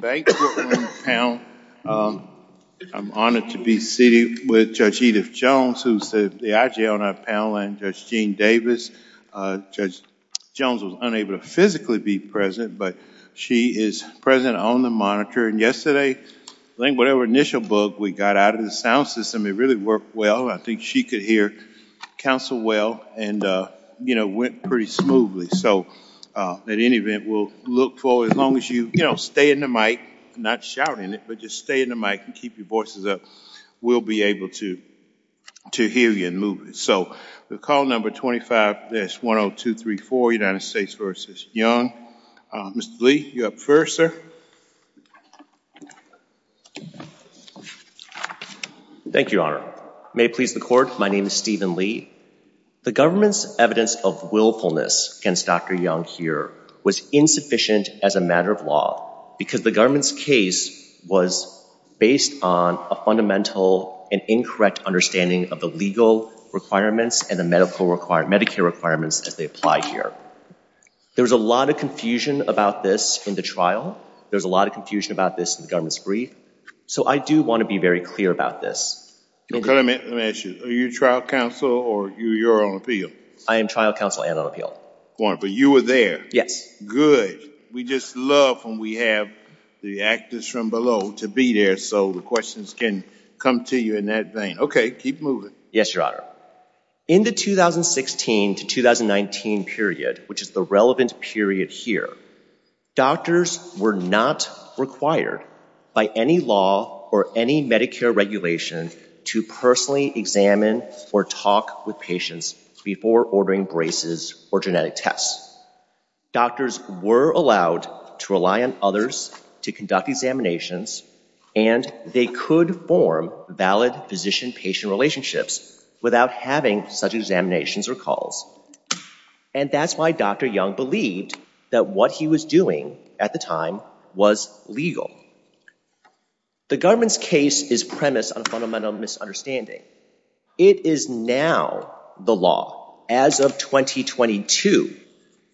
Thank you, panel. I'm honored to be sitting with Judge Edith Jones, who's the IG on our panel, and Judge Jean Davis. Judge Jones was unable to physically be present, but she is present on the monitor. And yesterday, I think whatever initial bug we got out of the sound system, it really worked well. I think she could hear counsel well and, you know, went pretty smoothly. So at any event, we'll look for as long as you, you know, stay in the mic, not shouting it, but just stay in the mic and keep your voices up. We'll be able to hear you and move it. So the call number 25S10234, United States v. Young. Mr. Lee, you're up first, sir. Thank you, Your Honor. May it please the Court, my name is Stephen Lee. The government's evidence of willfulness against Dr. Young here was insufficient as a matter of law, because the government's case was based on a fundamental and incorrect understanding of the legal requirements and the medical require, Medicare requirements as they apply here. There's a lot of confusion about this in the trial. There's a lot of confusion about this in the government's brief. So I do want to be very clear about this. Okay, let me ask you, are you trial counsel or you're on appeal? I am trial counsel and on appeal. But you were there? Yes. Good. We just love when we have the actors from below to be there so the questions can come to you in that vein. Okay, keep moving. Yes, Your Honor. In the 2016 to 2019 period, which is the relevant period here, doctors were not required by any law or any Medicare regulation to personally examine or talk with patients before ordering braces or genetic tests. Doctors were allowed to rely on others to conduct examinations and they could form valid physician-patient relationships without having such examinations or calls. And that's why Dr. Young believed that what he was doing at the time was legal. The government's case is premised on a fundamental misunderstanding. It is now the law, as of 2022,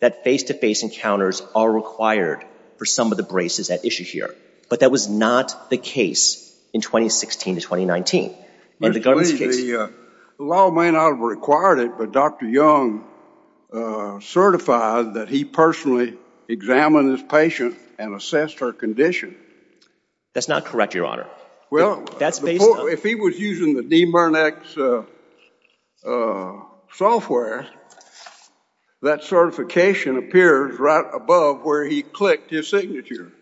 that face-to-face encounters are required for some of the braces at issue here. But that was not the case in 2016 to 2019. Mr. Lee, the law may not have required it, but Dr. Young certified that he personally examined his patient and assessed her condition. That's not correct, Your Honor. Well, if he was using the DMIRNAC's software, that certification appears right above where he clicked his signature.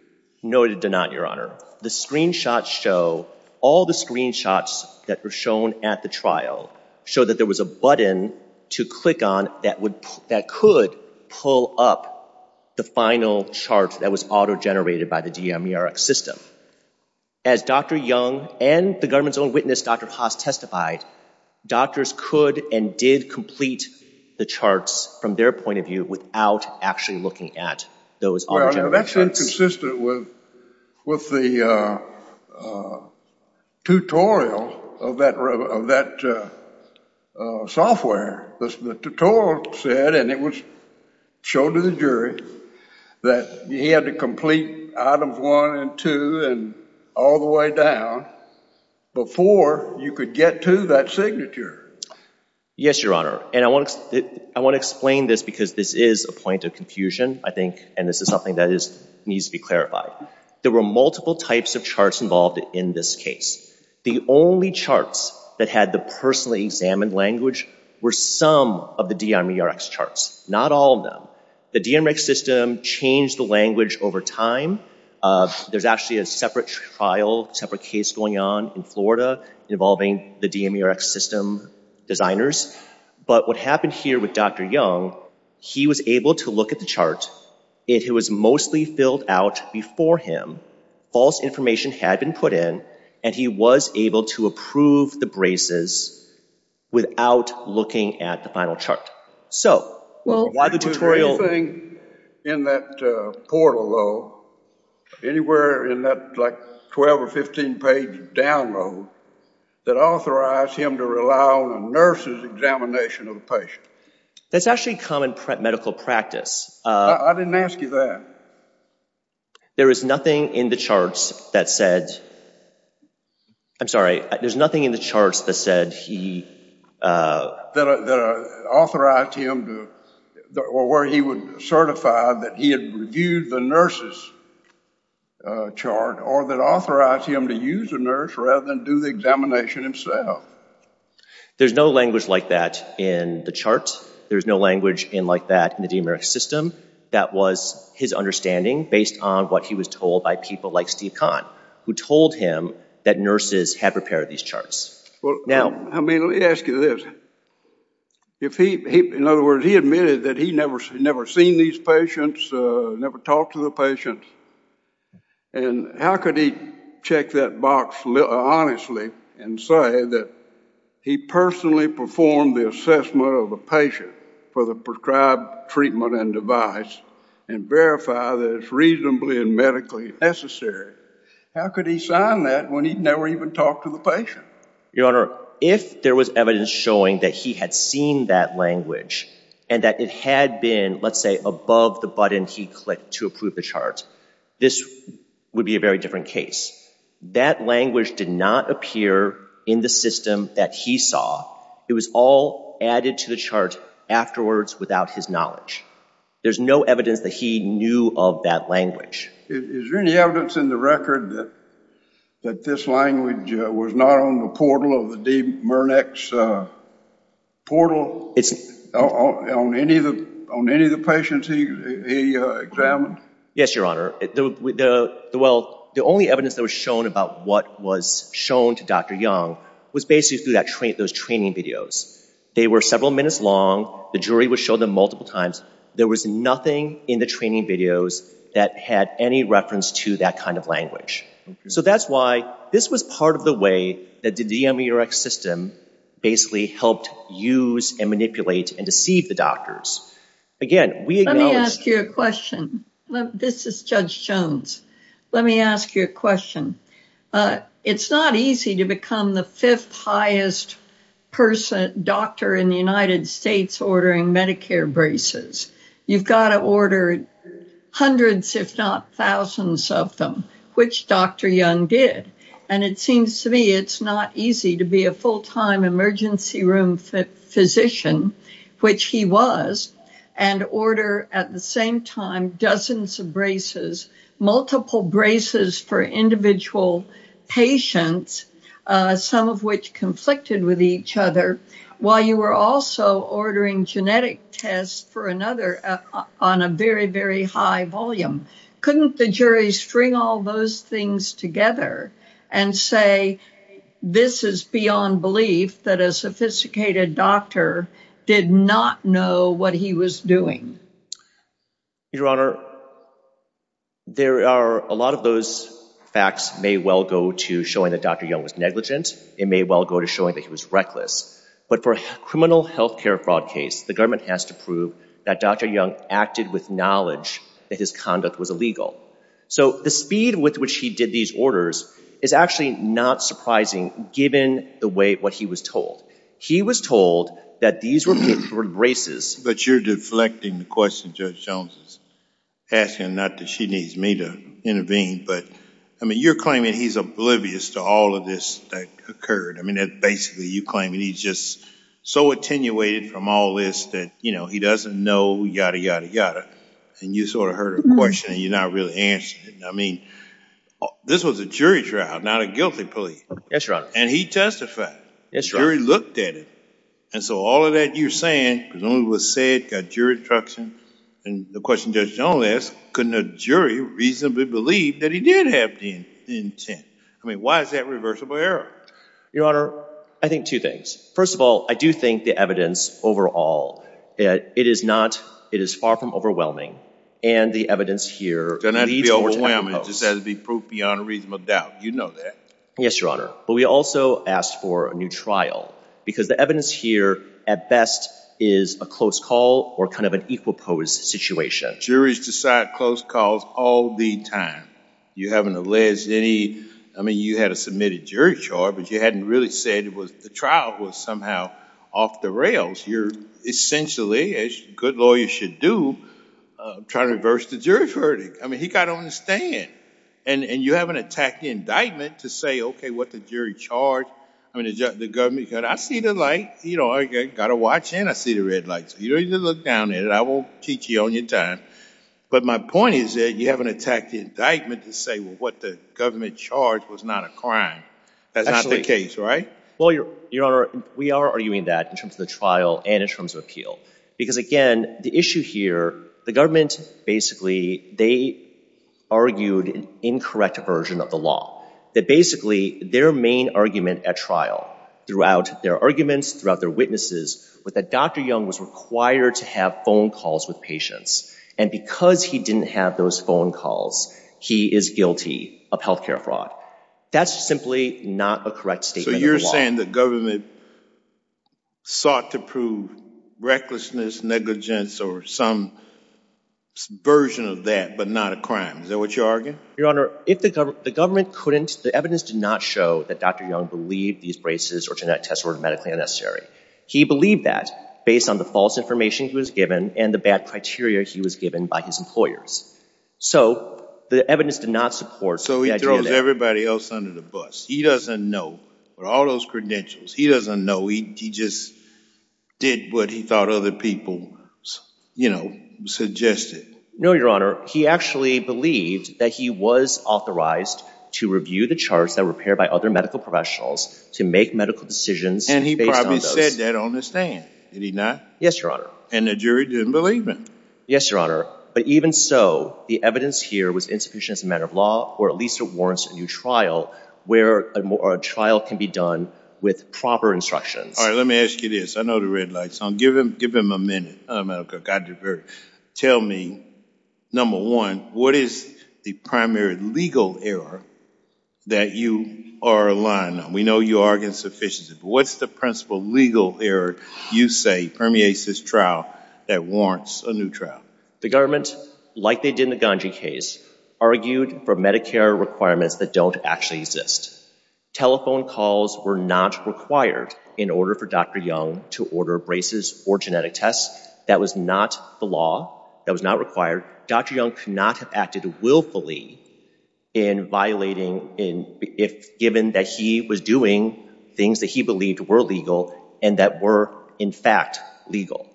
No, it did not, Your Honor. The screenshots show, all the screenshots that were shown at the trial show that there was a button to click on that could pull up the final chart that was auto-generated by the DMIRNAC system. As Dr. Young and the government's own witness, Dr. Haas, testified, doctors could and did complete the charts from their point of view without actually looking at those auto-generated charts. Well, that's inconsistent with the tutorial of that software. The tutorial said, and it was shown to the jury, that you had to complete items one and two and all the way down before you could get to that signature. Yes, Your Honor. And I want to explain this because this is a point of confusion, I think, and this is something that needs to be clarified. There were multiple types of charts involved in this case. The only charts that had the personally examined language were some of the DMIRNAC charts, not all of them. The DMIRNAC system changed the language over time. There's actually a separate trial, separate case going on in Florida involving the DMIRNAC system designers. But what happened here with Dr. Young, he was able to look at the chart. It was mostly filled out before him. False information had been put in, and he was able to approve the braces without looking at the final chart. Was there anything in that portal, though, anywhere in that 12 or 15 page download that authorized him to rely on a nurse's examination of the patient? That's actually common medical practice. I didn't ask you that. There is nothing in the charts that said, I'm sorry, there's nothing in the charts that said he... That authorized him to, or where he would certify that he had reviewed the nurse's chart or that authorized him to use a nurse rather than do the examination himself. There's no language like that in the chart. There's no language in like that in the DMIRNAC that was his understanding based on what he was told by people like Steve Kahn, who told him that nurses had prepared these charts. I mean, let me ask you this. In other words, he admitted that he never seen these patients, never talked to the patients. And how could he check that box honestly and say that he personally performed the assessment of a patient for the prescribed treatment and device and verify that it's reasonably and medically necessary? How could he sign that when he'd never even talked to the patient? Your Honor, if there was evidence showing that he had seen that language and that it had been, let's say, above the button he clicked to approve the charts, this would be a very different case. That language did not appear in the system that he saw. It was all added to the chart afterwards without his knowledge. There's no evidence that he knew of that language. Is there any evidence in the record that this language was not on the portal of the DMIRNAC's portal on any of the patients he examined? Yes, Your Honor. Well, the only evidence that was shown about what was shown to Dr. Young was basically through those training videos. They were several minutes long. The jury would show them multiple times. There was nothing in the training videos that had any reference to that kind of language. So that's why this was part of the way that the DMIRNAC system basically helped use and deceive the doctors. Again, we acknowledge... Let me ask you a question. This is Judge Jones. Let me ask you a question. It's not easy to become the fifth highest person doctor in the United States ordering Medicare braces. You've got to order hundreds, if not thousands of them, which Dr. Young did. And it seems to me it's not easy to be a full-time emergency room physician, which he was, and order at the same time dozens of braces, multiple braces for individual patients, some of which conflicted with each other, while you were also ordering genetic tests for another on a very, very high volume. Couldn't the jury string all those things together and say, this is beyond belief, that a sophisticated doctor did not know what he was doing? Your Honor, there are... A lot of those facts may well go to showing that Dr. Young was negligent. It may well go to showing that he was reckless. But for a criminal healthcare fraud case, the government has to prove that Dr. Young acted with knowledge that his conduct was illegal. So the speed with which he did these orders is actually not surprising, given the way what he was told. He was told that these were braces... But you're deflecting the question, Judge Jones, asking not that she needs me to intervene. But I mean, you're claiming he's oblivious to all of this that occurred. I mean, basically, you're claiming he's just so attenuated from all this that he doesn't know, yada, yada, yada. And you sort of heard her question, and you're not really answering it. I mean, this was a jury trial, not a guilty plea. Yes, Your Honor. And he testified. The jury looked at it. And so all of that you're saying, presumably was said, got jury instruction. And the question Judge Jones asked, couldn't a jury reasonably believe that he did have the intent? I mean, why is that reversible error? Your Honor, I think two things. First of all, I do think the evidence overall, it is far from overwhelming. And the evidence here... Doesn't have to be overwhelming. It just has to be proof beyond reasonable doubt. You know that. Yes, Your Honor. But we also asked for a new trial, because the evidence here, at best, is a close call or kind of an equal pose situation. Juries decide close calls all the time. You haven't alleged any... I mean, you had a submitted jury charge, but you hadn't really said the trial was somehow off the rails. You're essentially, as good lawyers should do, trying to reverse the jury verdict. I mean, he got on the stand. And you haven't attacked the indictment to say, OK, what the jury charge... I mean, the government... I see the light. I got a watch, and I see the red light. So you don't need to look down at it. I won't teach you on your time. But my point is that you haven't attacked the indictment to say, well, what the government charged was not a crime. That's not the case, right? Well, Your Honor, we are arguing that in terms of the trial and in terms of appeal. Because again, the issue here, the government, basically, they argued an incorrect version of the law. That basically, their main argument at trial, throughout their arguments, throughout their witnesses, was that Dr. Young was required to have phone calls with patients. And because he didn't have those phone calls, he is guilty of health care fraud. That's simply not a correct statement. So you're saying the government sought to prove recklessness, negligence, or some version of that, but not a crime. Is that what you're arguing? Your Honor, the evidence did not show that Dr. Young believed these braces or genetic tests were medically unnecessary. He believed that based on the false information he was given and the bad criteria he was given by his employers. So the evidence did not support the idea that- So he throws everybody else under the bus. He doesn't know. With all those credentials, he doesn't know. He just did what he thought other people suggested. No, Your Honor. He actually believed that he was authorized to review the charts that were prepared by other medical professionals to make medical decisions based on those- And he probably said that on the stand. Did he not? Yes, Your Honor. And the jury didn't believe him? Yes, Your Honor. But even so, the evidence here was insufficient as a matter of law, or at least it warrants a new trial, where a trial can be done with proper instructions. All right, let me ask you this. I know the red light's on. Give him a minute. Tell me, number one, what is the primary legal error that you are relying on? We know you argue insufficiency, but what's the principal legal error you say permeates this trial that warrants a new trial? The government, like they did in the Ganji case, argued for Medicare requirements that don't actually exist. Telephone calls were not required in order for Dr. Young to order braces or genetic tests. That was not the law. That was not required. Dr. Young could not have acted willfully in violating, given that he was doing things that he believed were legal and that were, in fact, legal.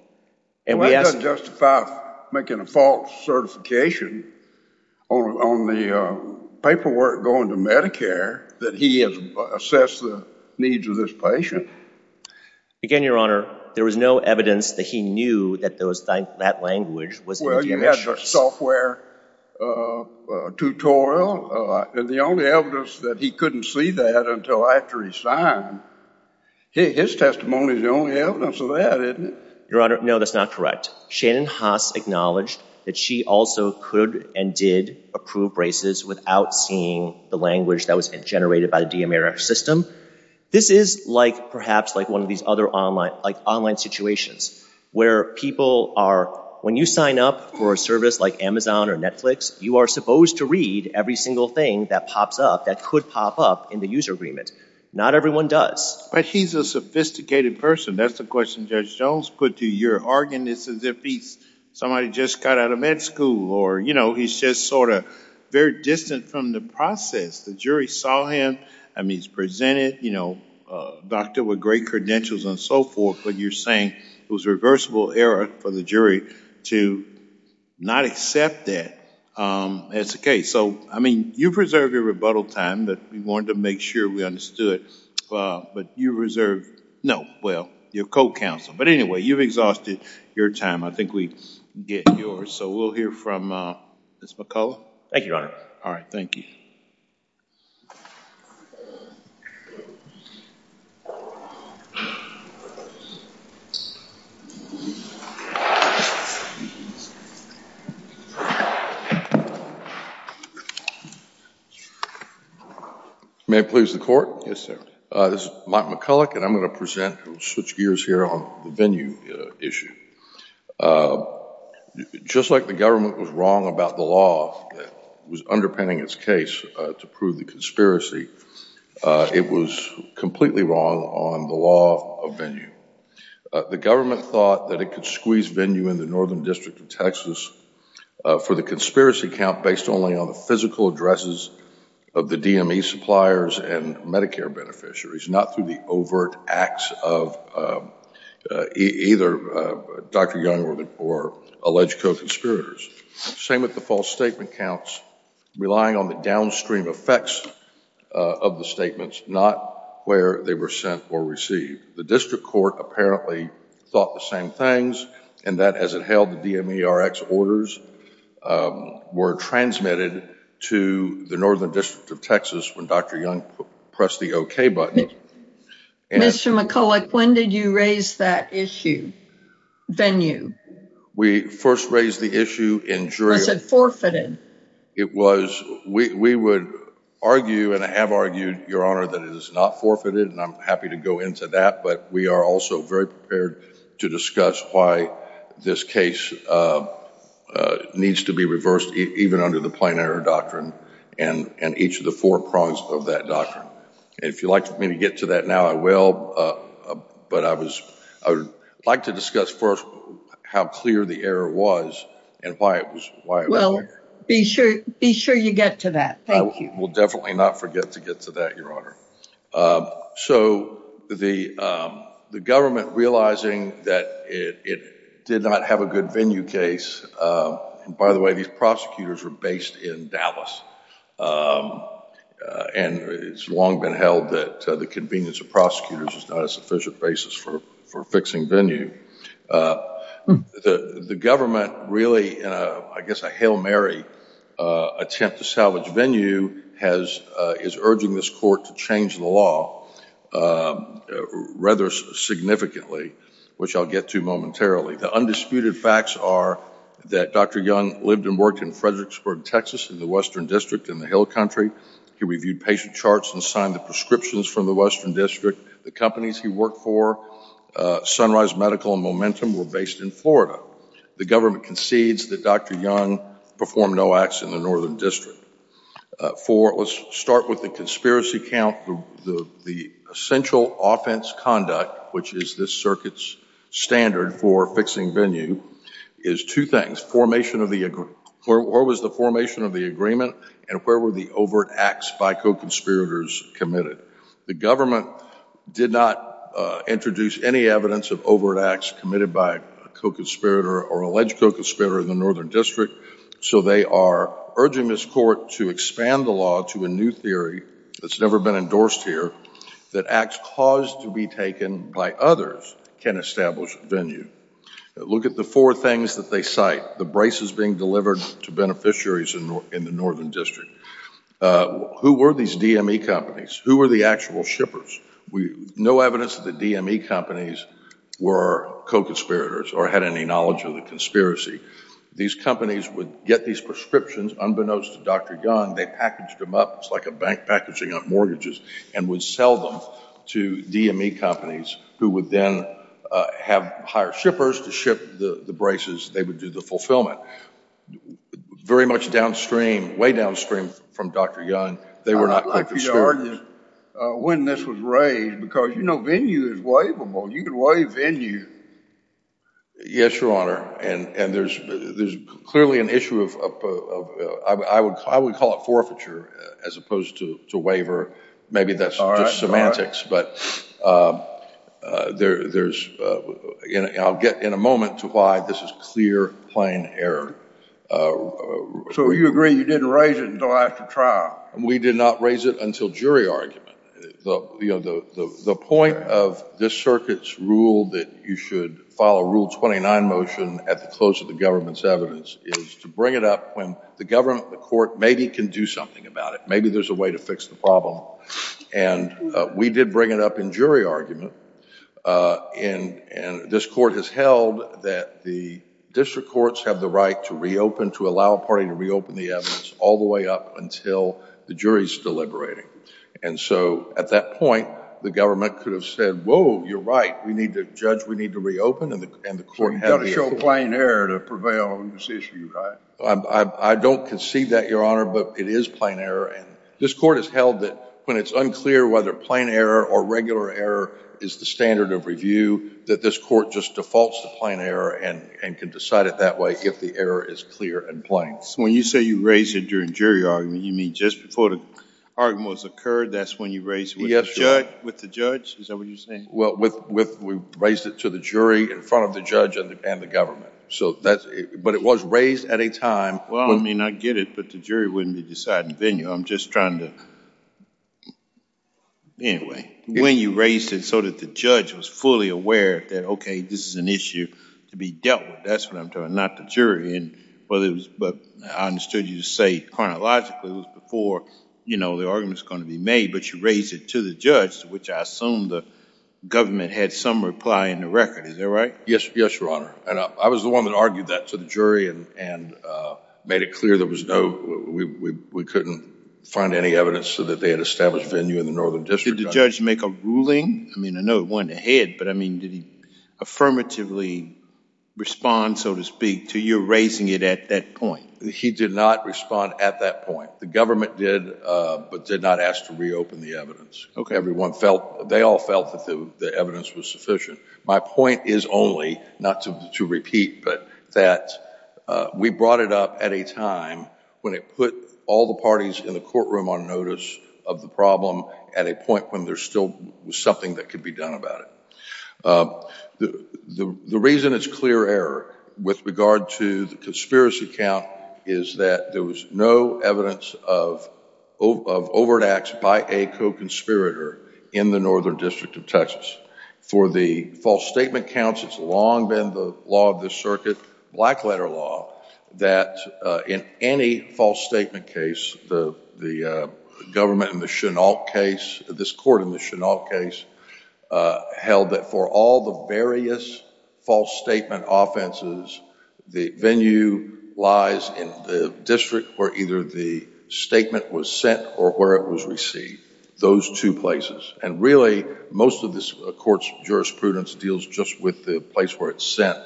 And we asked- Well, that doesn't justify making a false certification on the paperwork going to Medicare that he has assessed the needs of this patient. Again, Your Honor, there was no evidence that he knew that that language was- You had the software tutorial, and the only evidence that he couldn't see that until after he signed. His testimony is the only evidence of that, isn't it? Your Honor, no, that's not correct. Shannon Haas acknowledged that she also could and did approve braces without seeing the language that was generated by the DMIRF system. This is perhaps like one of these other online situations where people are- When you sign up for a service like Amazon or Netflix, you are supposed to read every single thing that pops up that could pop up in the user agreement. Not everyone does. But he's a sophisticated person. That's the question Judge Jones put to your argument. It's as if he's somebody who just got out of med school or, you know, he's just sort of very distant from the process. The jury saw him. I mean, he's presented, you know, doctor with great credentials and so forth, but you're saying it was a reversible error for the jury to not accept that as the case. So, I mean, you preserved your rebuttal time, but we wanted to make sure we understood. But you reserved- No, well, your co-counsel. But anyway, you've exhausted your time. I think we get yours. So we'll hear from Ms. McCullough. Thank you, Your Honor. All right. Thank you. May I please the court? Yes, sir. This is Mike McCullough, and I'm going to present and switch gears here on the venue issue. Just like the government was wrong about the law that was underpinning its case to prove the conspiracy, it was completely wrong on the law of venue. The government thought that it could squeeze venue in the Northern District of Texas for the conspiracy count based only on the physical addresses of the DME suppliers and Medicare beneficiaries, not through the overt acts of either Dr. Young or alleged co-conspirators. Same with the false statement counts, relying on the downstream effects of the statements, not where they were sent or received. The district court apparently thought the same things, and that as it held the DMERX orders were transmitted to the Northern District of Texas when Dr. Young pressed the OK button. Mr. McCullough, when did you raise that issue, venue? We first raised the issue in jury. Was it forfeited? It was. We would argue, and I have argued, Your Honor, that it is not forfeited, and I'm happy to go into that, but we are also very prepared to discuss why this case needs to be reversed, even under the plain error doctrine and each of the four prongs of that doctrine. If you'd like for me to get to that now, I will, but I would like to discuss first how clear the error was and why it was there. Well, be sure you get to that. I will definitely not forget to get to that, Your Honor. So the government realizing that it did not have a good venue case, by the way, these prosecutors were based in Dallas, and it's long been held that the convenience of prosecutors is not a sufficient basis for fixing venue. The government really, in a, I guess, a Hail Mary attempt to salvage venue, has, is urging this court to change the law rather significantly, which I'll get to momentarily. The undisputed facts are that Dr. Young lived and worked in Fredericksburg, Texas, in the Western District in the Hill Country. He reviewed patient charts and signed the prescriptions from the Western District. The companies he worked for, Sunrise Medical and Momentum, were based in Florida. The government concedes that Dr. Young performed no acts in the Northern District. For, let's start with the conspiracy count, the essential offense conduct, which is this circuit's standard for fixing venue, is two things. Formation of the, where was the formation of the agreement, and where were the overt acts by co-conspirators committed? The government did not introduce any evidence of overt acts committed by a co-conspirator or alleged co-conspirator in the Northern District. So they are urging this court to expand the law to a new theory that's never been endorsed here, that acts caused to be taken by others can establish venue. Look at the four things that they cite, the braces being delivered to beneficiaries in the Northern District. Who were these DME companies? Who were the actual shippers? No evidence that the DME companies were co-conspirators or had any knowledge of the conspiracy. These companies would get these prescriptions unbeknownst to Dr. Young. They packaged them up. It's like a bank packaging on mortgages and would sell them to DME companies who would then have higher shippers to ship the braces. They would do the fulfillment. Very much downstream, way downstream from Dr. Young. They were not co-conspirators. I'd like for you to argue when this was raised because, you know, venue is waivable. You can waive venue. Yes, Your Honor. And there's clearly an issue of, I would call it forfeiture as opposed to waiver. Maybe that's just semantics. But I'll get in a moment to why this is clear, plain error. So you agree you didn't raise it until after trial? We did not raise it until jury argument. You know, the point of this circuit's rule that you should follow Rule 29 motion at the close of the government's evidence is to bring it up when the government, the court, maybe can do something about it. Maybe there's a way to fix the problem. And we did bring it up in jury argument. And this court has held that the district courts have the right to reopen, to allow a party to reopen the evidence all the way up until the jury's deliberating. And so at that point, the government could have said, whoa, you're right. We need to judge. We need to reopen. And the court had to show plain error to prevail on this issue, right? I don't conceive that, Your Honor. But it is plain error. And this court has held that when it's unclear whether plain error or regular error is the standard of review, that this court just defaults to plain error and can decide it that way if the error is clear and plain. When you say you raised it during jury argument, you mean just before the argument occurred? That's when you raised it with the judge? Is that what you're saying? Well, we raised it to the jury in front of the judge and the government. But it was raised at a time. Well, I mean, I get it. But the jury wouldn't be deciding venue. I'm just trying to... Anyway, when you raised it so that the judge was fully aware that, OK, this is an issue to be dealt with, that's what I'm talking about, not the jury. But I understood you to say chronologically it was before the argument was going to be made. But you raised it to the judge, which I assume the government had some reply in the record. Is that right? Yes, Your Honor. And I was the one that argued that to the jury and made it clear there was no... We couldn't find any evidence that they had established venue in the Northern District. Did the judge make a ruling? I mean, I know it went ahead. Did he affirmatively respond, so to speak, to your raising it at that point? He did not respond at that point. The government did, but did not ask to reopen the evidence. Everyone felt, they all felt that the evidence was sufficient. My point is only, not to repeat, but that we brought it up at a time when it put all the parties in the courtroom on notice of the problem at a point when there still was something that could be done about it. The reason it's clear error with regard to the conspiracy count is that there was no evidence of overt acts by a co-conspirator in the Northern District of Texas. For the false statement counts, it's long been the law of the circuit, black letter law, that in any false statement case, the government in the Chenault case, this court in the Chenault case, held that for all the various false statement offenses, the venue lies in the district where either the statement was sent or where it was received, those two places. Really, most of this court's jurisprudence deals just with the place where it's sent.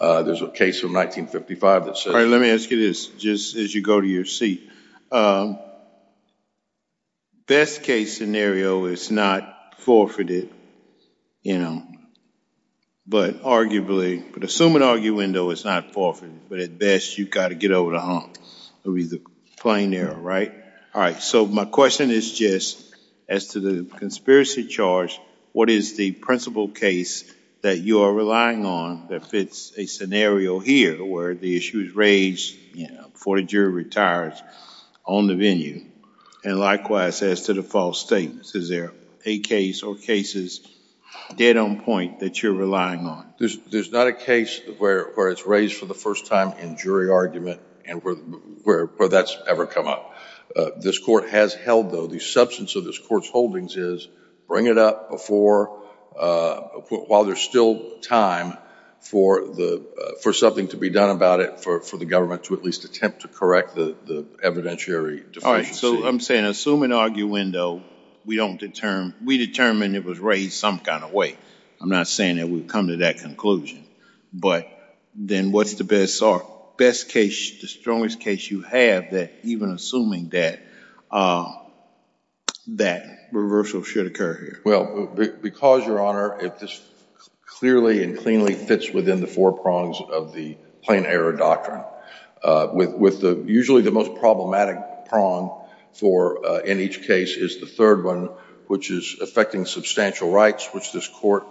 There's a case from 1955 that says... All right, let me ask you this, just as you go to your seat. Best case scenario is not forfeited, but arguably, but assume an arguendo is not forfeited, but at best, you've got to get over the hump. It would be the plain error, right? All right, so my question is just, as to the conspiracy charge, what is the principal case that you are relying on that fits a scenario here where the issue is raised before a jury retires on the venue, and likewise, as to the false statements, is there a case or cases dead on point that you're relying on? There's not a case where it's raised for the first time in jury argument and where that's ever come up. This court has held, though, the substance of this court's holdings is bring it up before... while there's still time for something to be done about it, for the jury to at least attempt to correct the evidentiary deficiency. All right, so I'm saying, assume an arguendo, we determine it was raised some kind of way. I'm not saying that we've come to that conclusion, but then what's the best case, the strongest case you have that, even assuming that, that reversal should occur here? Well, because, Your Honor, it just clearly and cleanly fits within the four prongs of the plain error doctrine. Usually the most problematic prong in each case is the third one, which is affecting substantial rights, which this court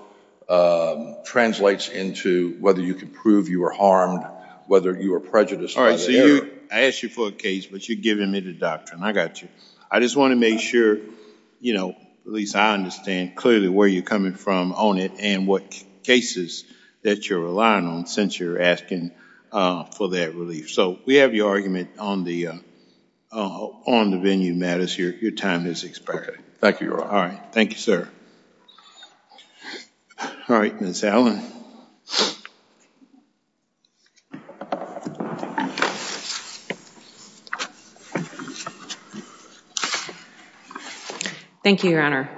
translates into whether you can prove you were harmed, whether you were prejudiced by the error. All right, so I asked you for a case, but you're giving me the doctrine. I got you. I just want to make sure, at least I understand clearly where you're coming from on it and what cases that you're relying on since you're asking for that relief. So we have your argument on the venue, Matt, as your time is expiring. Thank you, Your Honor. All right. Thank you, sir. All right, Ms. Allen. Thank you, Your Honor.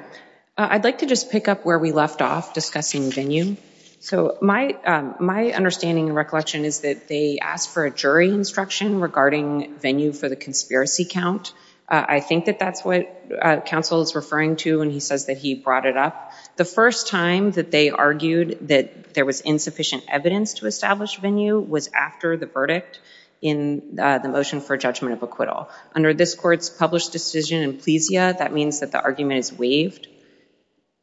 I'd like to just pick up where we left off discussing venue. So my understanding and recollection is that they asked for a jury instruction regarding venue for the conspiracy count. I think that that's what counsel is referring to when he says that he brought it up. The first time that they argued that there was insufficient evidence to establish venue was after the verdict in the motion for judgment of acquittal. Under this court's published decision in plesia, that means that the argument is waived,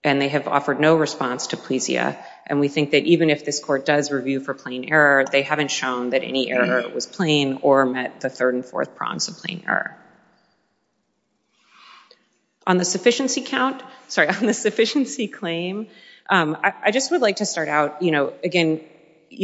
and they have offered no response to plesia. And we think that even if this court does review for plain error, they haven't shown that any error was plain or met the third and fourth prongs of plain error. On the sufficiency claim, I just would like to start out, again,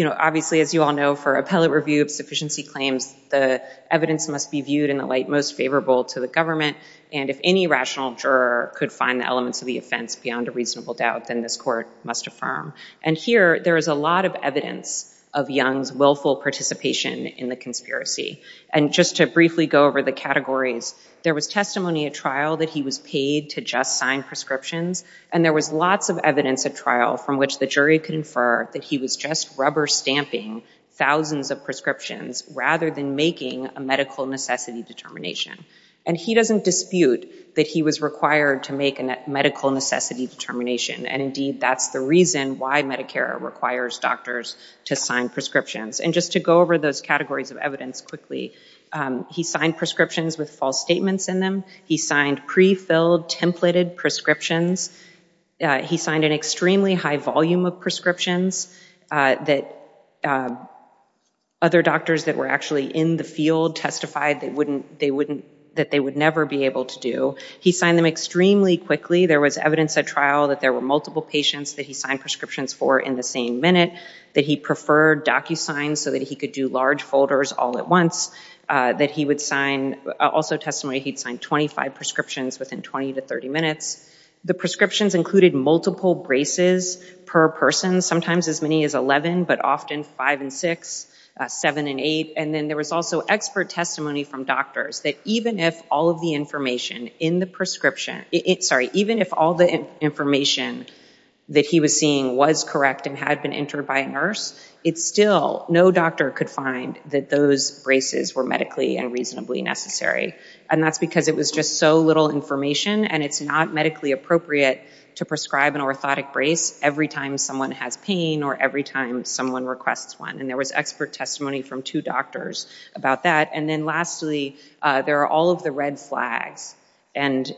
obviously, as you all know, for appellate review of sufficiency claims, the evidence must be viewed in the light most favorable to the government. And if any rational juror could find the elements of the offense beyond a reasonable doubt, then this court must affirm. And here, there is a lot of evidence of Young's willful participation in the conspiracy. And just to briefly go over the categories, there was testimony at trial that he was paid to just sign prescriptions. And there was lots of evidence at trial from which the jury could infer that he was just rubber stamping thousands of prescriptions rather than making a medical necessity determination. And he doesn't dispute that he was required to make a medical necessity determination. And indeed, that's the reason why Medicare requires doctors to sign prescriptions. And just to go over those categories of evidence quickly, he signed prescriptions with false statements in them. He signed pre-filled, templated prescriptions. He signed an extremely high volume of prescriptions that other doctors that were actually in the field testified that they would never be able to do. He signed them extremely quickly. There was evidence at trial that there were multiple patients that he signed prescriptions for in the same minute, that he preferred DocuSign so that he could do large folders all at once, that he would sign also testimony, he'd sign 25 prescriptions within 20 to 30 minutes. The prescriptions included multiple braces per person, sometimes as many as 11, but often five and six, seven and eight. And then there was also expert testimony from doctors that even if all of the information in the prescription, sorry, even if all the information that he was seeing was correct and had been entered by a nurse, it's still, no doctor could find that those braces were medically and reasonably necessary. And that's because it was just so little information and it's not medically appropriate to prescribe an orthotic brace every time someone has pain or every time someone requests one. And there was expert testimony from two doctors about that. And then lastly, there are all of the red flags. And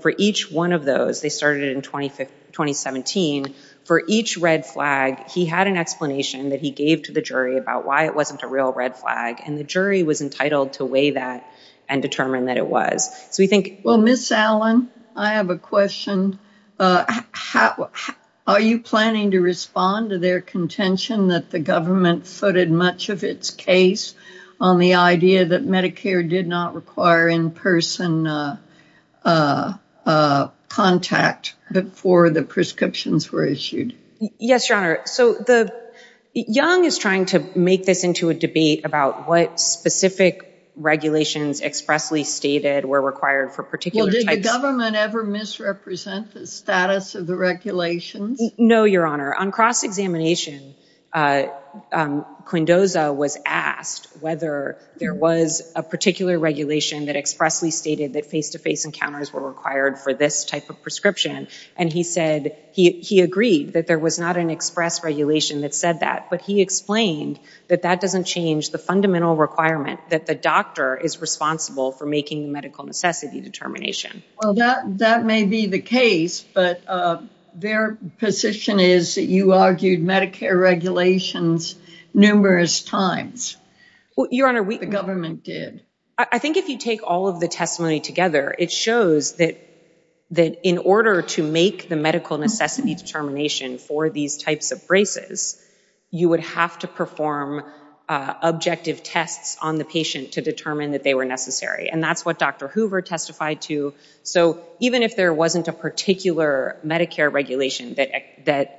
for each one of those, they started in 2017, for each red flag, he had an explanation that he gave to the jury about why it wasn't a real red flag. And the jury was entitled to weigh that and determine that it was. So we think- Well, Ms. Allen, I have a question. Are you planning to respond to their contention that the government footed much of its case on the idea that Medicare did not require in-person contact before the prescriptions were issued? Yes, Your Honor. So Young is trying to make this into a debate about what specific regulations expressly stated were required for particular types- Well, did the government ever misrepresent the status of the regulations? No, Your Honor. On cross-examination, Quindoza was asked whether there was a particular regulation that expressly stated that face-to-face encounters were required for this type of prescription. And he said he agreed that there was not an express regulation that said that, but he explained that that doesn't change the fundamental requirement that the doctor is responsible for making the medical necessity determination. Well, that may be the case, but their position is that you argued Medicare regulations numerous times. Well, Your Honor, we- The government did. I think if you take all of the testimony together, it shows that in order to make the medical necessity determination for these types of braces, you would have to perform objective tests on the patient to determine that they were necessary. And that's what Dr. Hoover testified to. So even if there wasn't a particular Medicare regulation that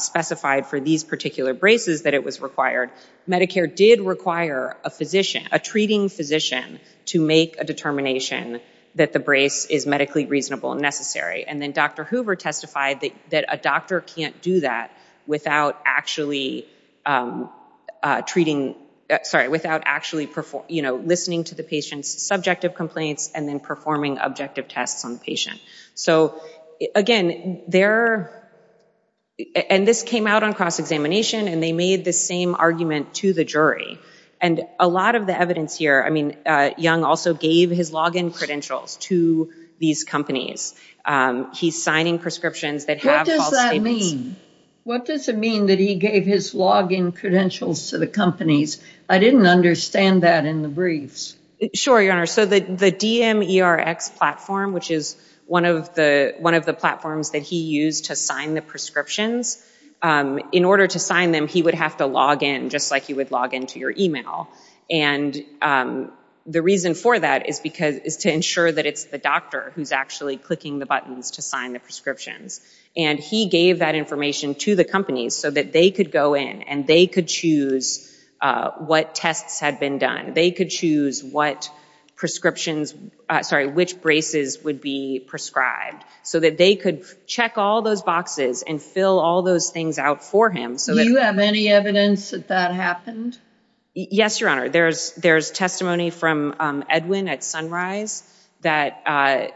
specified for these particular braces that it was required, Medicare did require a treating physician to make a determination that the brace is medically reasonable and necessary. And then Dr. Hoover testified that a doctor can't do that without actually listening to the patient's subjective complaints and then performing objective tests on the patient. So again, and this came out on cross-examination and they made the same argument to the jury. And a lot of the evidence here, I mean, Young also gave his login credentials to these companies. He's signing prescriptions that have false statements. What does that mean? What does it mean that he gave his login credentials to the companies? I didn't understand that in the briefs. Sure, Your Honor. So the DMERX platform, which is one of the platforms that he used to sign the prescriptions, in order to sign them, he would have to log in just like you would log into your email. And the reason for that is to ensure that it's the doctor who's actually clicking the buttons to sign the prescriptions. And he gave that information to the companies so that they could go in and they could choose what tests had been done. They could choose what prescriptions, sorry, which braces would be prescribed. So that they could check all those boxes and fill all those things out for him. Do you have any evidence that that happened? Yes, Your Honor. There's testimony from Edwin at Sunrise that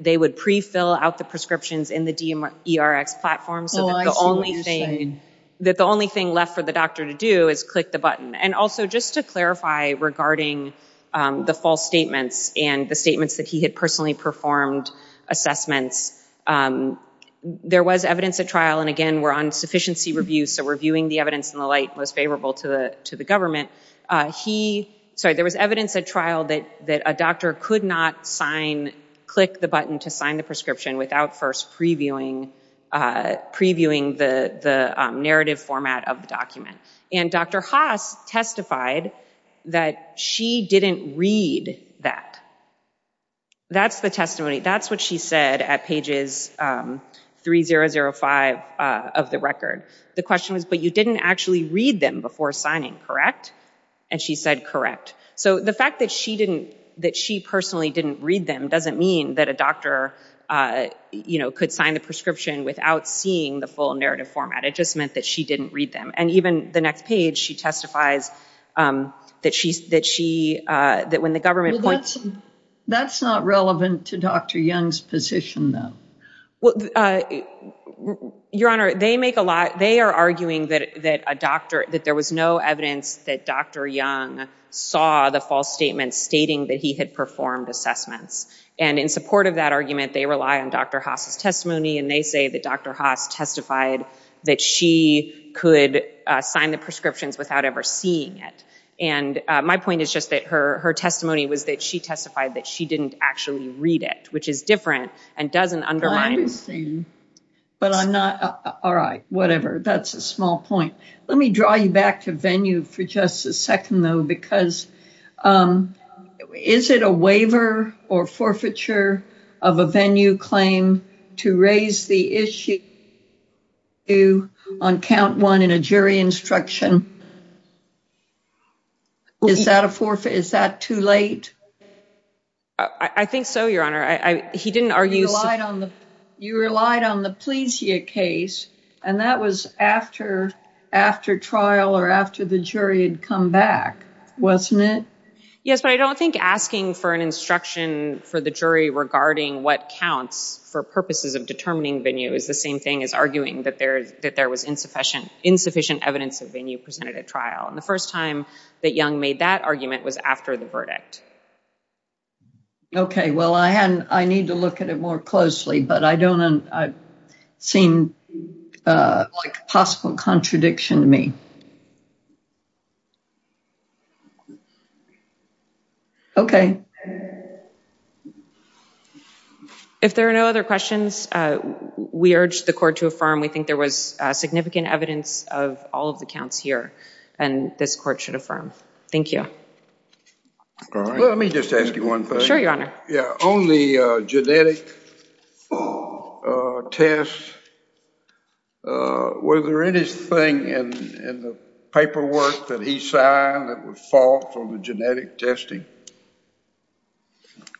they would pre-fill out the prescriptions in the DMERX platform so that the only thing left for the doctor to do is click the button. And also, just to clarify regarding the false statements and the statements that he had personally performed assessments, there was evidence at trial, and again, we're on sufficiency review, so we're viewing the evidence in the light most favorable to the government. He, sorry, there was evidence at trial that a doctor could not sign, click the button to sign the prescription without first previewing the narrative format of the document. And Dr. Haas testified that she didn't read that. That's the testimony. That's what she said at pages 3005 of the record. The question was, but you didn't actually read them before signing, correct? And she said, correct. So the fact that she didn't, that she personally didn't read them doesn't mean that a doctor, you know, could sign the prescription without seeing the full narrative format. It just meant that she didn't read them. And even the next page, she testifies that she, that when the government points- That's not relevant to Dr. Young's position, though. Well, Your Honor, they make a lot, they are arguing that a doctor, that there was no evidence that Dr. Young saw the false statements stating that he had performed assessments. And in support of that argument, they rely on Dr. Haas' testimony, and they say that Dr. Haas testified that she could sign the prescriptions without ever seeing it. And my point is just that her testimony was that she testified that she didn't actually read it, which is different and doesn't undermine- I understand. But I'm not, all right, whatever. That's a small point. Let me draw you back to venue for just a second, though, because is it a waiver or forfeiture of a venue claim to raise the issue on count one in a jury instruction? Is that a forfeit? Is that too late? I think so, Your Honor. I, he didn't argue- You relied on the, you relied on the Pleasia case, and that was after, after trial or after the jury had come back, wasn't it? Yes, but I don't think asking for an instruction for the jury regarding what counts for purposes of determining venue is the same thing as arguing that there, that there was insufficient, insufficient evidence of venue presented at trial. And the first time that Young made that argument was after the verdict. Okay. Well, I hadn't, I need to look at it more closely, but I don't, I've seen, like, possible contradiction to me. Okay. If there are no other questions, we urge the court to affirm. We think there was significant evidence of all of the counts here, and this court should affirm. Thank you. Let me just ask you one thing. Sure, Your Honor. Yeah. On the genetic test, was there anything in the paperwork that he signed that was false on the genetic testing?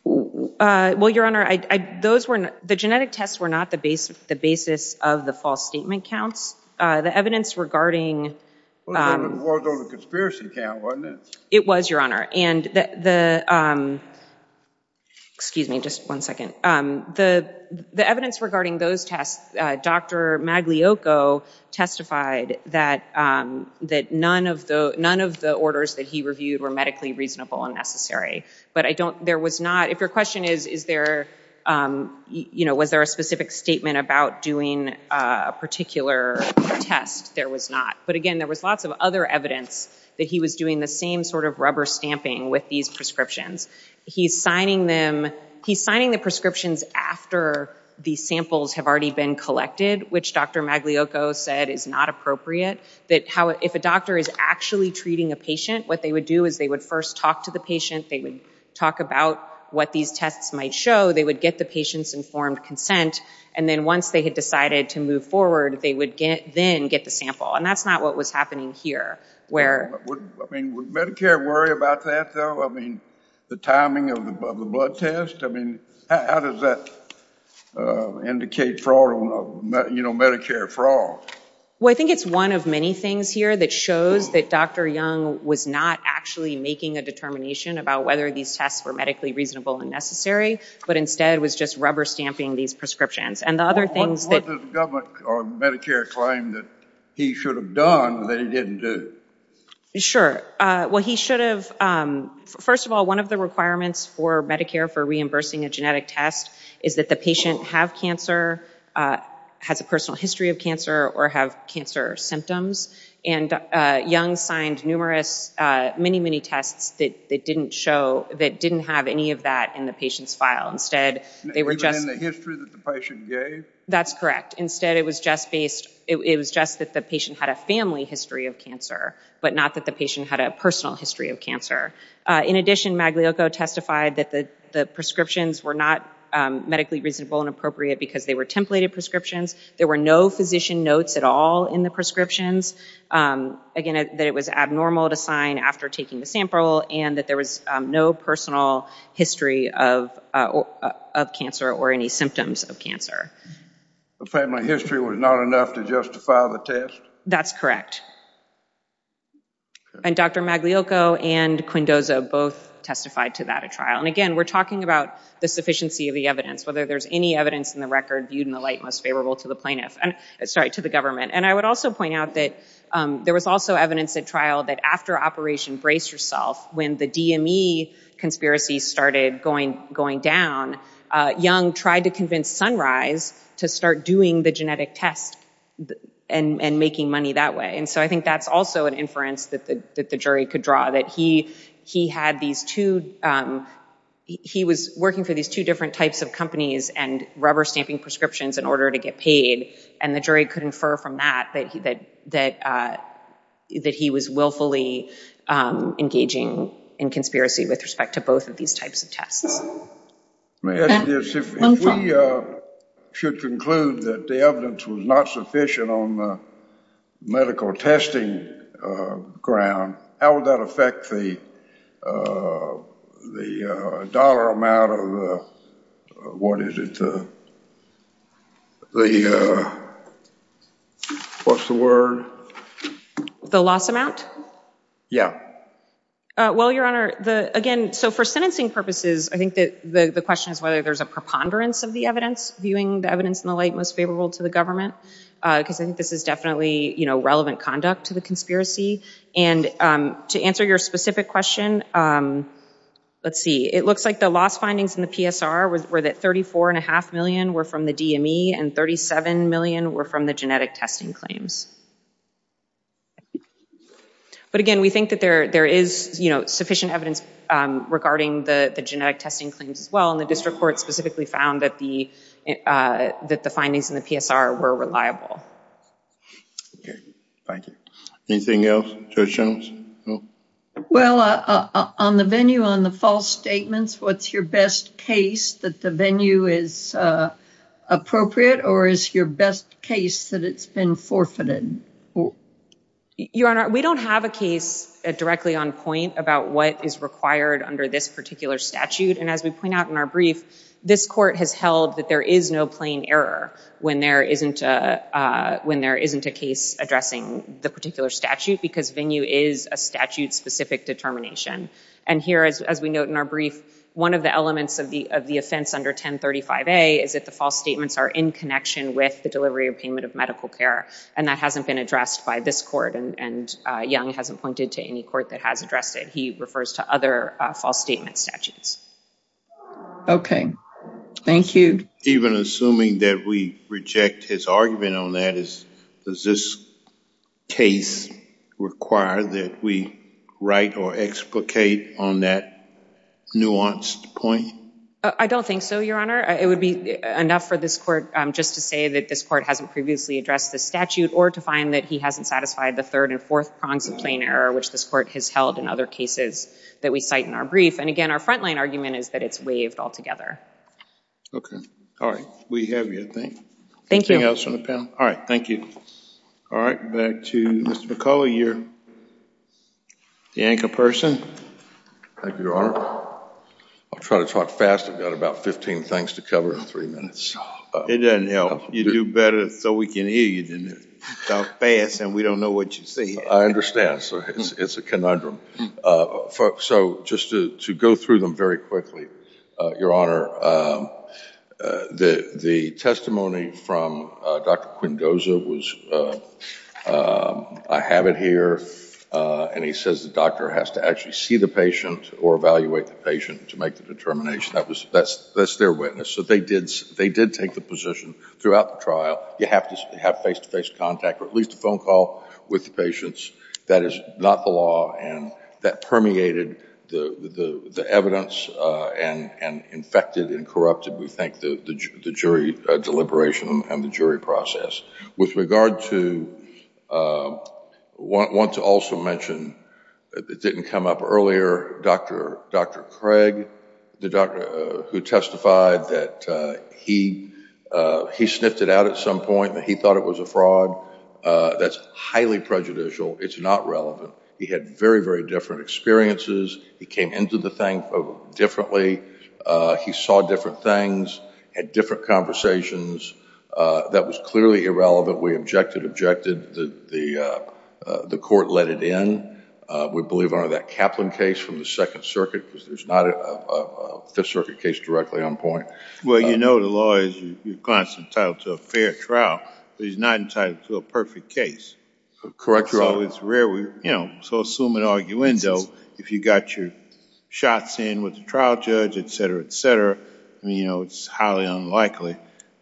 Well, Your Honor, I, I, those were, the genetic tests were not the base, the basis of the false statement counts. The evidence regarding... It was on the conspiracy count, wasn't it? It was, Your Honor. And the, the, excuse me, just one second. The, the evidence regarding those tests, Dr. Maglioco testified that, that none of the, none of the orders that he reviewed were medically reasonable and necessary. But I don't, there was not, if your question is, is there, you know, was there a specific statement about doing a particular test? There was not. But again, there was lots of other evidence that he was doing the same sort of rubber stamping with these prescriptions. He's signing them, he's signing the prescriptions after the samples have already been collected, which Dr. Maglioco said is not appropriate. That how, if a doctor is actually treating a patient, what they would do is they would first talk to the patient. They would talk about what these tests might show. They would get the patient's informed consent. And then once they had decided to move forward, they would get, then get the sample. And that's not what was happening here, where... I mean, would Medicare worry about that though? I mean, the timing of the blood test? I mean, how does that indicate fraud on, you know, Medicare fraud? Well, I think it's one of many things here that shows that Dr. Young was not actually making a determination about whether these tests were medically reasonable and necessary, but instead was just rubber stamping these prescriptions. And the other things that... What does the government or Medicare claim that he should have done that he didn't do? Sure. Well, he should have... First of all, one of the requirements for Medicare for reimbursing a genetic test is the patient have cancer, has a personal history of cancer, or have cancer symptoms. And Young signed numerous, many, many tests that didn't show... that didn't have any of that in the patient's file. Instead, they were just... Even in the history that the patient gave? That's correct. Instead, it was just based... It was just that the patient had a family history of cancer, but not that the patient had a personal history of cancer. In addition, Magliocco testified that the prescriptions were not medically reasonable and appropriate because they were templated prescriptions. There were no physician notes at all in the prescriptions. Again, that it was abnormal to sign after taking the sample and that there was no personal history of cancer or any symptoms of cancer. The family history was not enough to justify the test? That's correct. And Dr. Magliocco and Quindoza both testified to that at trial. And again, we're talking about the sufficiency of the evidence, whether there's any evidence in the record viewed in the light most favorable to the government. And I would also point out that there was also evidence at trial that after Operation Brace Yourself, when the DME conspiracy started going down, Young tried to convince Sunrise to start doing the genetic test and making money that way. So I think that's also an inference that the jury could draw, that he was working for these two different types of companies and rubber stamping prescriptions in order to get paid. And the jury could infer from that that he was willfully engaging in conspiracy with respect to both of these types of tests. May I add to this? If we should conclude that the evidence was not sufficient on the medical testing ground, how would that affect the dollar amount of what is it? What's the word? The loss amount? Yeah. Well, Your Honor, again, so for sentencing purposes, I think that the question is whether there's a preponderance of the evidence, viewing the evidence in the light most favorable to the government, because I think this is definitely relevant conduct to the conspiracy. And to answer your specific question, let's see. It looks like the loss findings in the PSR were that $34.5 million were from the DME and $37 million were from the genetic testing claims. But again, we think that there is sufficient evidence regarding the genetic testing claims as well. And the district court specifically found that the findings in the PSR were reliable. Thank you. Anything else, Judge Shultz? Well, on the venue, on the false statements, what's your best case that the venue is appropriate or is your best case that it's been forfeited? Well, Your Honor, we don't have a case directly on point about what is required under this particular statute. And as we point out in our brief, this court has held that there is no plain error when there isn't a case addressing the particular statute, because venue is a statute-specific determination. And here, as we note in our brief, one of the elements of the offense under 1035A is that the false statements are in connection with the delivery or payment of medical care. And that hasn't been addressed by this court. And Young hasn't pointed to any court that has addressed it. He refers to other false statement statutes. OK. Thank you. Even assuming that we reject his argument on that, does this case require that we write or explicate on that nuanced point? I don't think so, Your Honor. It would be enough for this court just to say that this court hasn't previously addressed the statute or to find that he hasn't satisfied the third and fourth prongs of plain error, which this court has held in other cases that we cite in our brief. And again, our frontline argument is that it's waived altogether. OK. All right. We have you, I think. Anything else from the panel? All right. Thank you. All right. Back to Mr. McCullough, you're the anchor person. Thank you, Your Honor. I'll try to talk fast. I've got about 15 things to cover in three minutes. It doesn't help. You do better. So we can hear you, don't we? Talk fast, and we don't know what you're saying. I understand. So it's a conundrum. So just to go through them very quickly, Your Honor, the testimony from Dr. Quindosa was, I have it here. And he says the doctor has to actually see the patient or evaluate the patient to make the determination. That's their witness. So they did take the position throughout the trial. You have to have face-to-face contact or at least a phone call with the patients. That is not the law. And that permeated the evidence and infected and corrupted, we think, the jury deliberation and the jury process. With regard to, I want to also mention, it didn't come up earlier, Dr. Craig, who testified that he sniffed it out at some point, that he thought it was a fraud. That's highly prejudicial. It's not relevant. He had very, very different experiences. He came into the thing differently. He saw different things, had different conversations. That was clearly irrelevant. We objected, objected. The court let it in. We believe under that Kaplan case from the Second Circuit, because there's not a Fifth Well, you know the law is you're constantly entitled to a fair trial. But he's not entitled to a perfect case. Correct your honor. So it's rare, you know, to assume an arguendo if you got your shots in with the trial judge, et cetera, et cetera. I mean, you know, it's highly unlikely,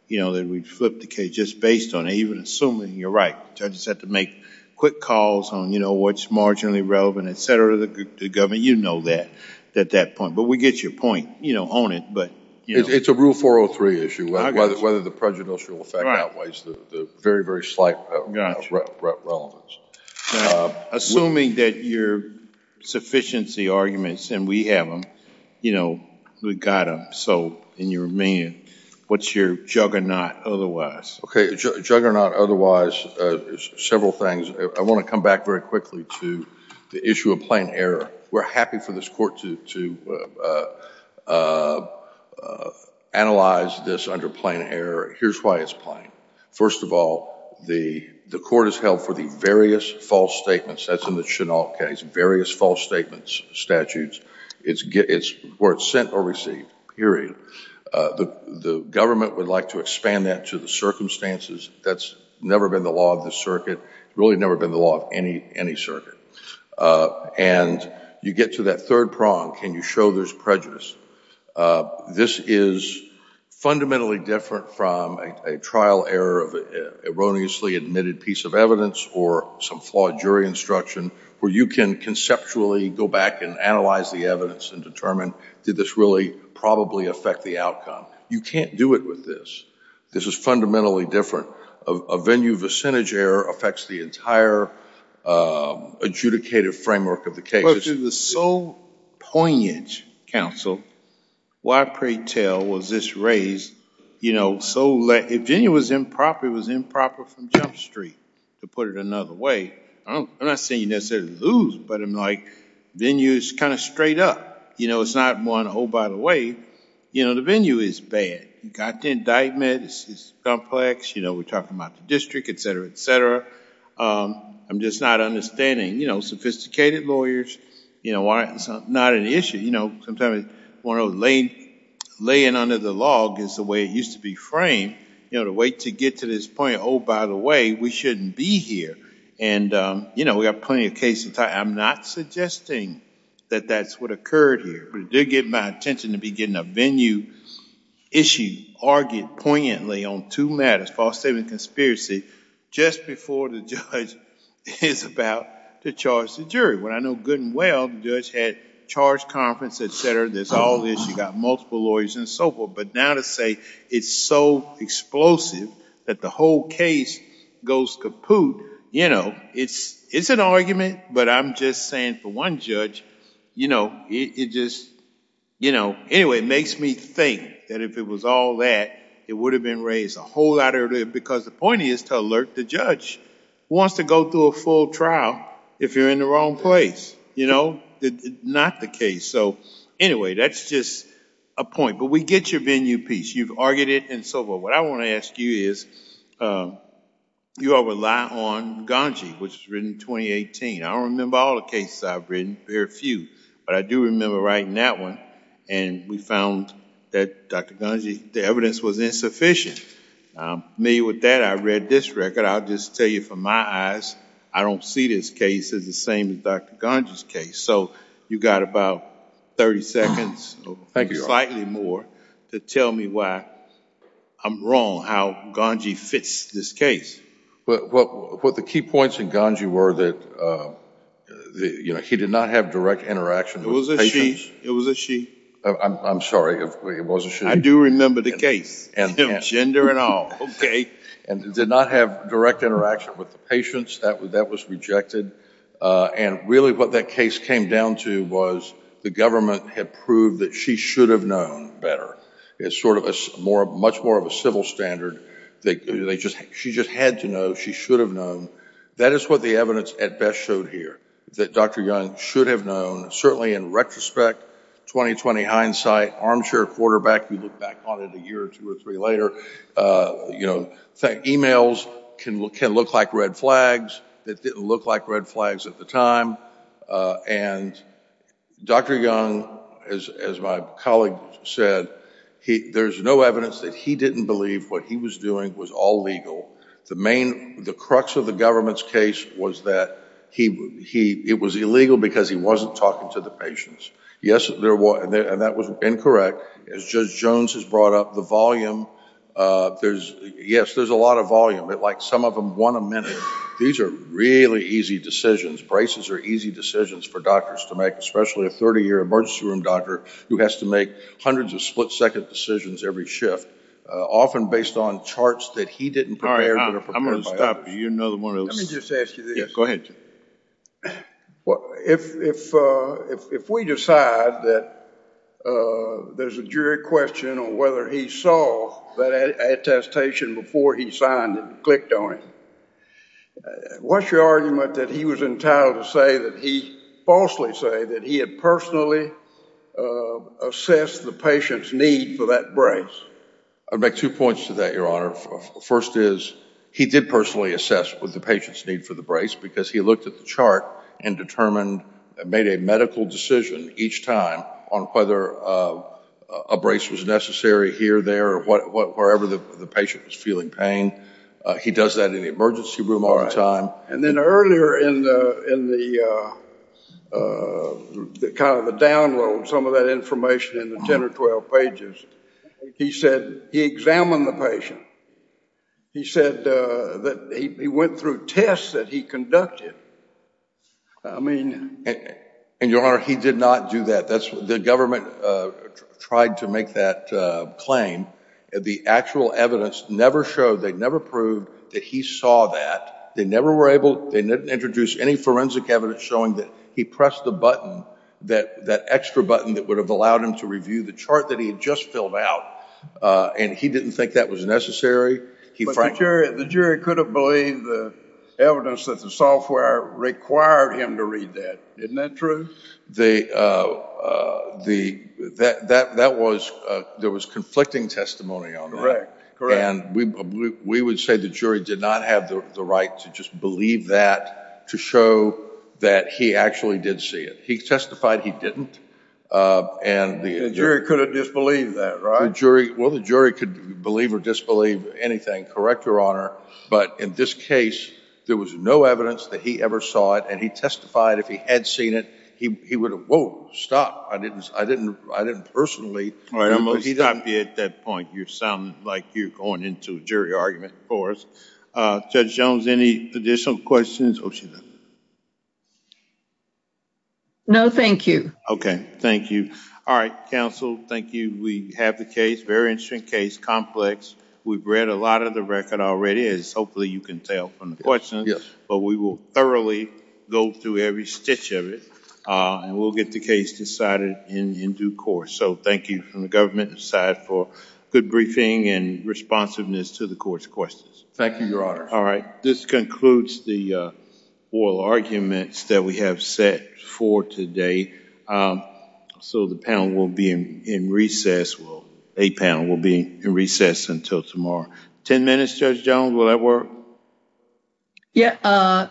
you know, that we'd flip the case just based on it, even assuming you're right. Judges have to make quick calls on, you know, what's marginally relevant, et cetera, to the government. You know that at that point. But we get your point, you know, on it. It's a rule 403 issue, whether the prejudicial effect outweighs the very, very slight relevance. Assuming that your sufficiency arguments, and we have them, you know, we got them. So, and you're a man, what's your juggernaut otherwise? Okay, juggernaut otherwise, several things. I want to come back very quickly to the issue of plain error. We're happy for this court to analyze this under plain error. Here's why it's plain. First of all, the court has held for the various false statements, that's in the Chennault case, various false statements, statutes, where it's sent or received, period. The government would like to expand that to the circumstances. That's never been the law of the circuit. It's really never been the law of any circuit. And you get to that third prong, can you show there's prejudice? This is fundamentally different from a trial error of an erroneously admitted piece of evidence, or some flawed jury instruction, where you can conceptually go back and analyze the evidence and determine did this really probably affect the outcome. You can't do it with this. This is fundamentally different. A venue vicinage error affects the entire adjudicated framework of the case. Well, if it was so poignant, counsel, why, pray tell, was this raised so late? If venue was improper, it was improper from Jump Street, to put it another way. I'm not saying you necessarily lose, but I'm like, venue is kind of straight up. You know, it's not one, oh, by the way, you know, the venue is bad. Got the indictment. It's complex. You know, we're talking about the district, et cetera, et cetera. I'm just not understanding. You know, sophisticated lawyers, you know, not an issue. You know, sometimes laying under the log is the way it used to be framed. You know, the way to get to this point, oh, by the way, we shouldn't be here. And, you know, we have plenty of cases. I'm not suggesting that that's what occurred here. But it did get my attention to be getting a venue issue argued poignantly on two matters, false statement and conspiracy, just before the judge is about to charge the jury. What I know good and well, the judge had charge conference, et cetera. There's all this. You got multiple lawyers and so forth. But now to say it's so explosive that the whole case goes kaput, you know, it's an argument. But I'm just saying for one judge, you know, it just, you know, anyway, it makes me think that if it was all that, it would have been raised a whole lot earlier. Because the point is to alert the judge who wants to go through a full trial if you're in the wrong place, you know, not the case. So anyway, that's just a point. But we get your venue piece. You've argued it and so forth. What I want to ask you is, you all rely on Ganji, which was written in 2018. I don't remember all the cases I've written, very few. But I do remember writing that one. And we found that, Dr. Ganji, the evidence was insufficient. Me, with that, I read this record. I'll just tell you from my eyes, I don't see this case as the same as Dr. Ganji's case. So you got about 30 seconds, slightly more, to tell me why I'm wrong, how Ganji fits this case. But what the key points in Ganji were that, you know, he did not have direct interaction. It was a she. It was a she. I'm sorry, it was a she. I do remember the case, no gender at all. Okay. And did not have direct interaction with the patients. That was rejected. And really what that case came down to was the government had proved that she should have known better. It's sort of much more of a civil standard. That they just, she just had to know, she should have known. That is what the evidence at best showed here. That Dr. Young should have known. Certainly in retrospect, 2020 hindsight, armchair quarterback, we look back on it a year or two or three later, you know, emails can look like red flags that didn't look like red flags at the time. And Dr. Young, as my colleague said, there's no evidence that he didn't believe what he was doing was all legal. The main, the crux of the government's case was that it was illegal because he wasn't talking to the patients. Yes, there was, and that was incorrect. As Judge Jones has brought up, the volume, there's, yes, there's a lot of volume. Like some of them, one a minute. These are really easy decisions. Braces are easy decisions for doctors to make, especially a 30-year emergency room doctor who has to make hundreds of split-second decisions every shift, often based on charts that he didn't prepare. All right, I'm going to stop you. You're another one of those. Let me just ask you this. Go ahead. Well, if we decide that there's a jury question on whether he saw that attestation before he signed and clicked on it, what's your argument that he was entitled to say that he falsely say that he had personally assessed the patient's need for that brace? I'd make two points to that, Your Honor. First is he did personally assess the patient's need for the brace because he looked at the chart and determined, made a medical decision each time on whether a brace was necessary here, there, wherever the patient was feeling pain. He does that in the emergency room all the time. And then earlier in the download, some of that information in the 10 or 12 pages, he said he examined the patient. He said that he went through tests that he conducted. And, Your Honor, he did not do that. The government tried to make that claim. The actual evidence never showed, they never proved that he saw that. They never were able, they didn't introduce any forensic evidence showing that he pressed the button, that extra button that would have allowed him to review the chart that he had just filled out. And he didn't think that was necessary. The jury could have believed the evidence that the software required him to read that. Isn't that true? That was, there was conflicting testimony on that. Correct, correct. We would say the jury did not have the right to just believe that, to show that he actually did see it. He testified he didn't. And the jury could have disbelieved that, right? Well, the jury could believe or disbelieve anything. Correct, Your Honor. But in this case, there was no evidence that he ever saw it. And he testified if he had seen it, he would have, whoa, stop. I didn't, I didn't, I didn't personally. All right, I'm going to stop you at that point. You're sounding like you're going into a jury argument for us. Judge Jones, any additional questions? No, thank you. Okay, thank you. All right, counsel, thank you. We have the case, very interesting case, complex. We've read a lot of the record already, as hopefully you can tell from the questions. But we will thoroughly go through every stitch of it. And we'll get the case decided in due course. So thank you from the government side for good briefing and responsiveness to the court's questions. Thank you, Your Honor. All right, this concludes the oral arguments that we have set for today. So the panel will be in recess, well, a panel will be in recess until tomorrow. 10 minutes, Judge Jones, will that work? Yeah.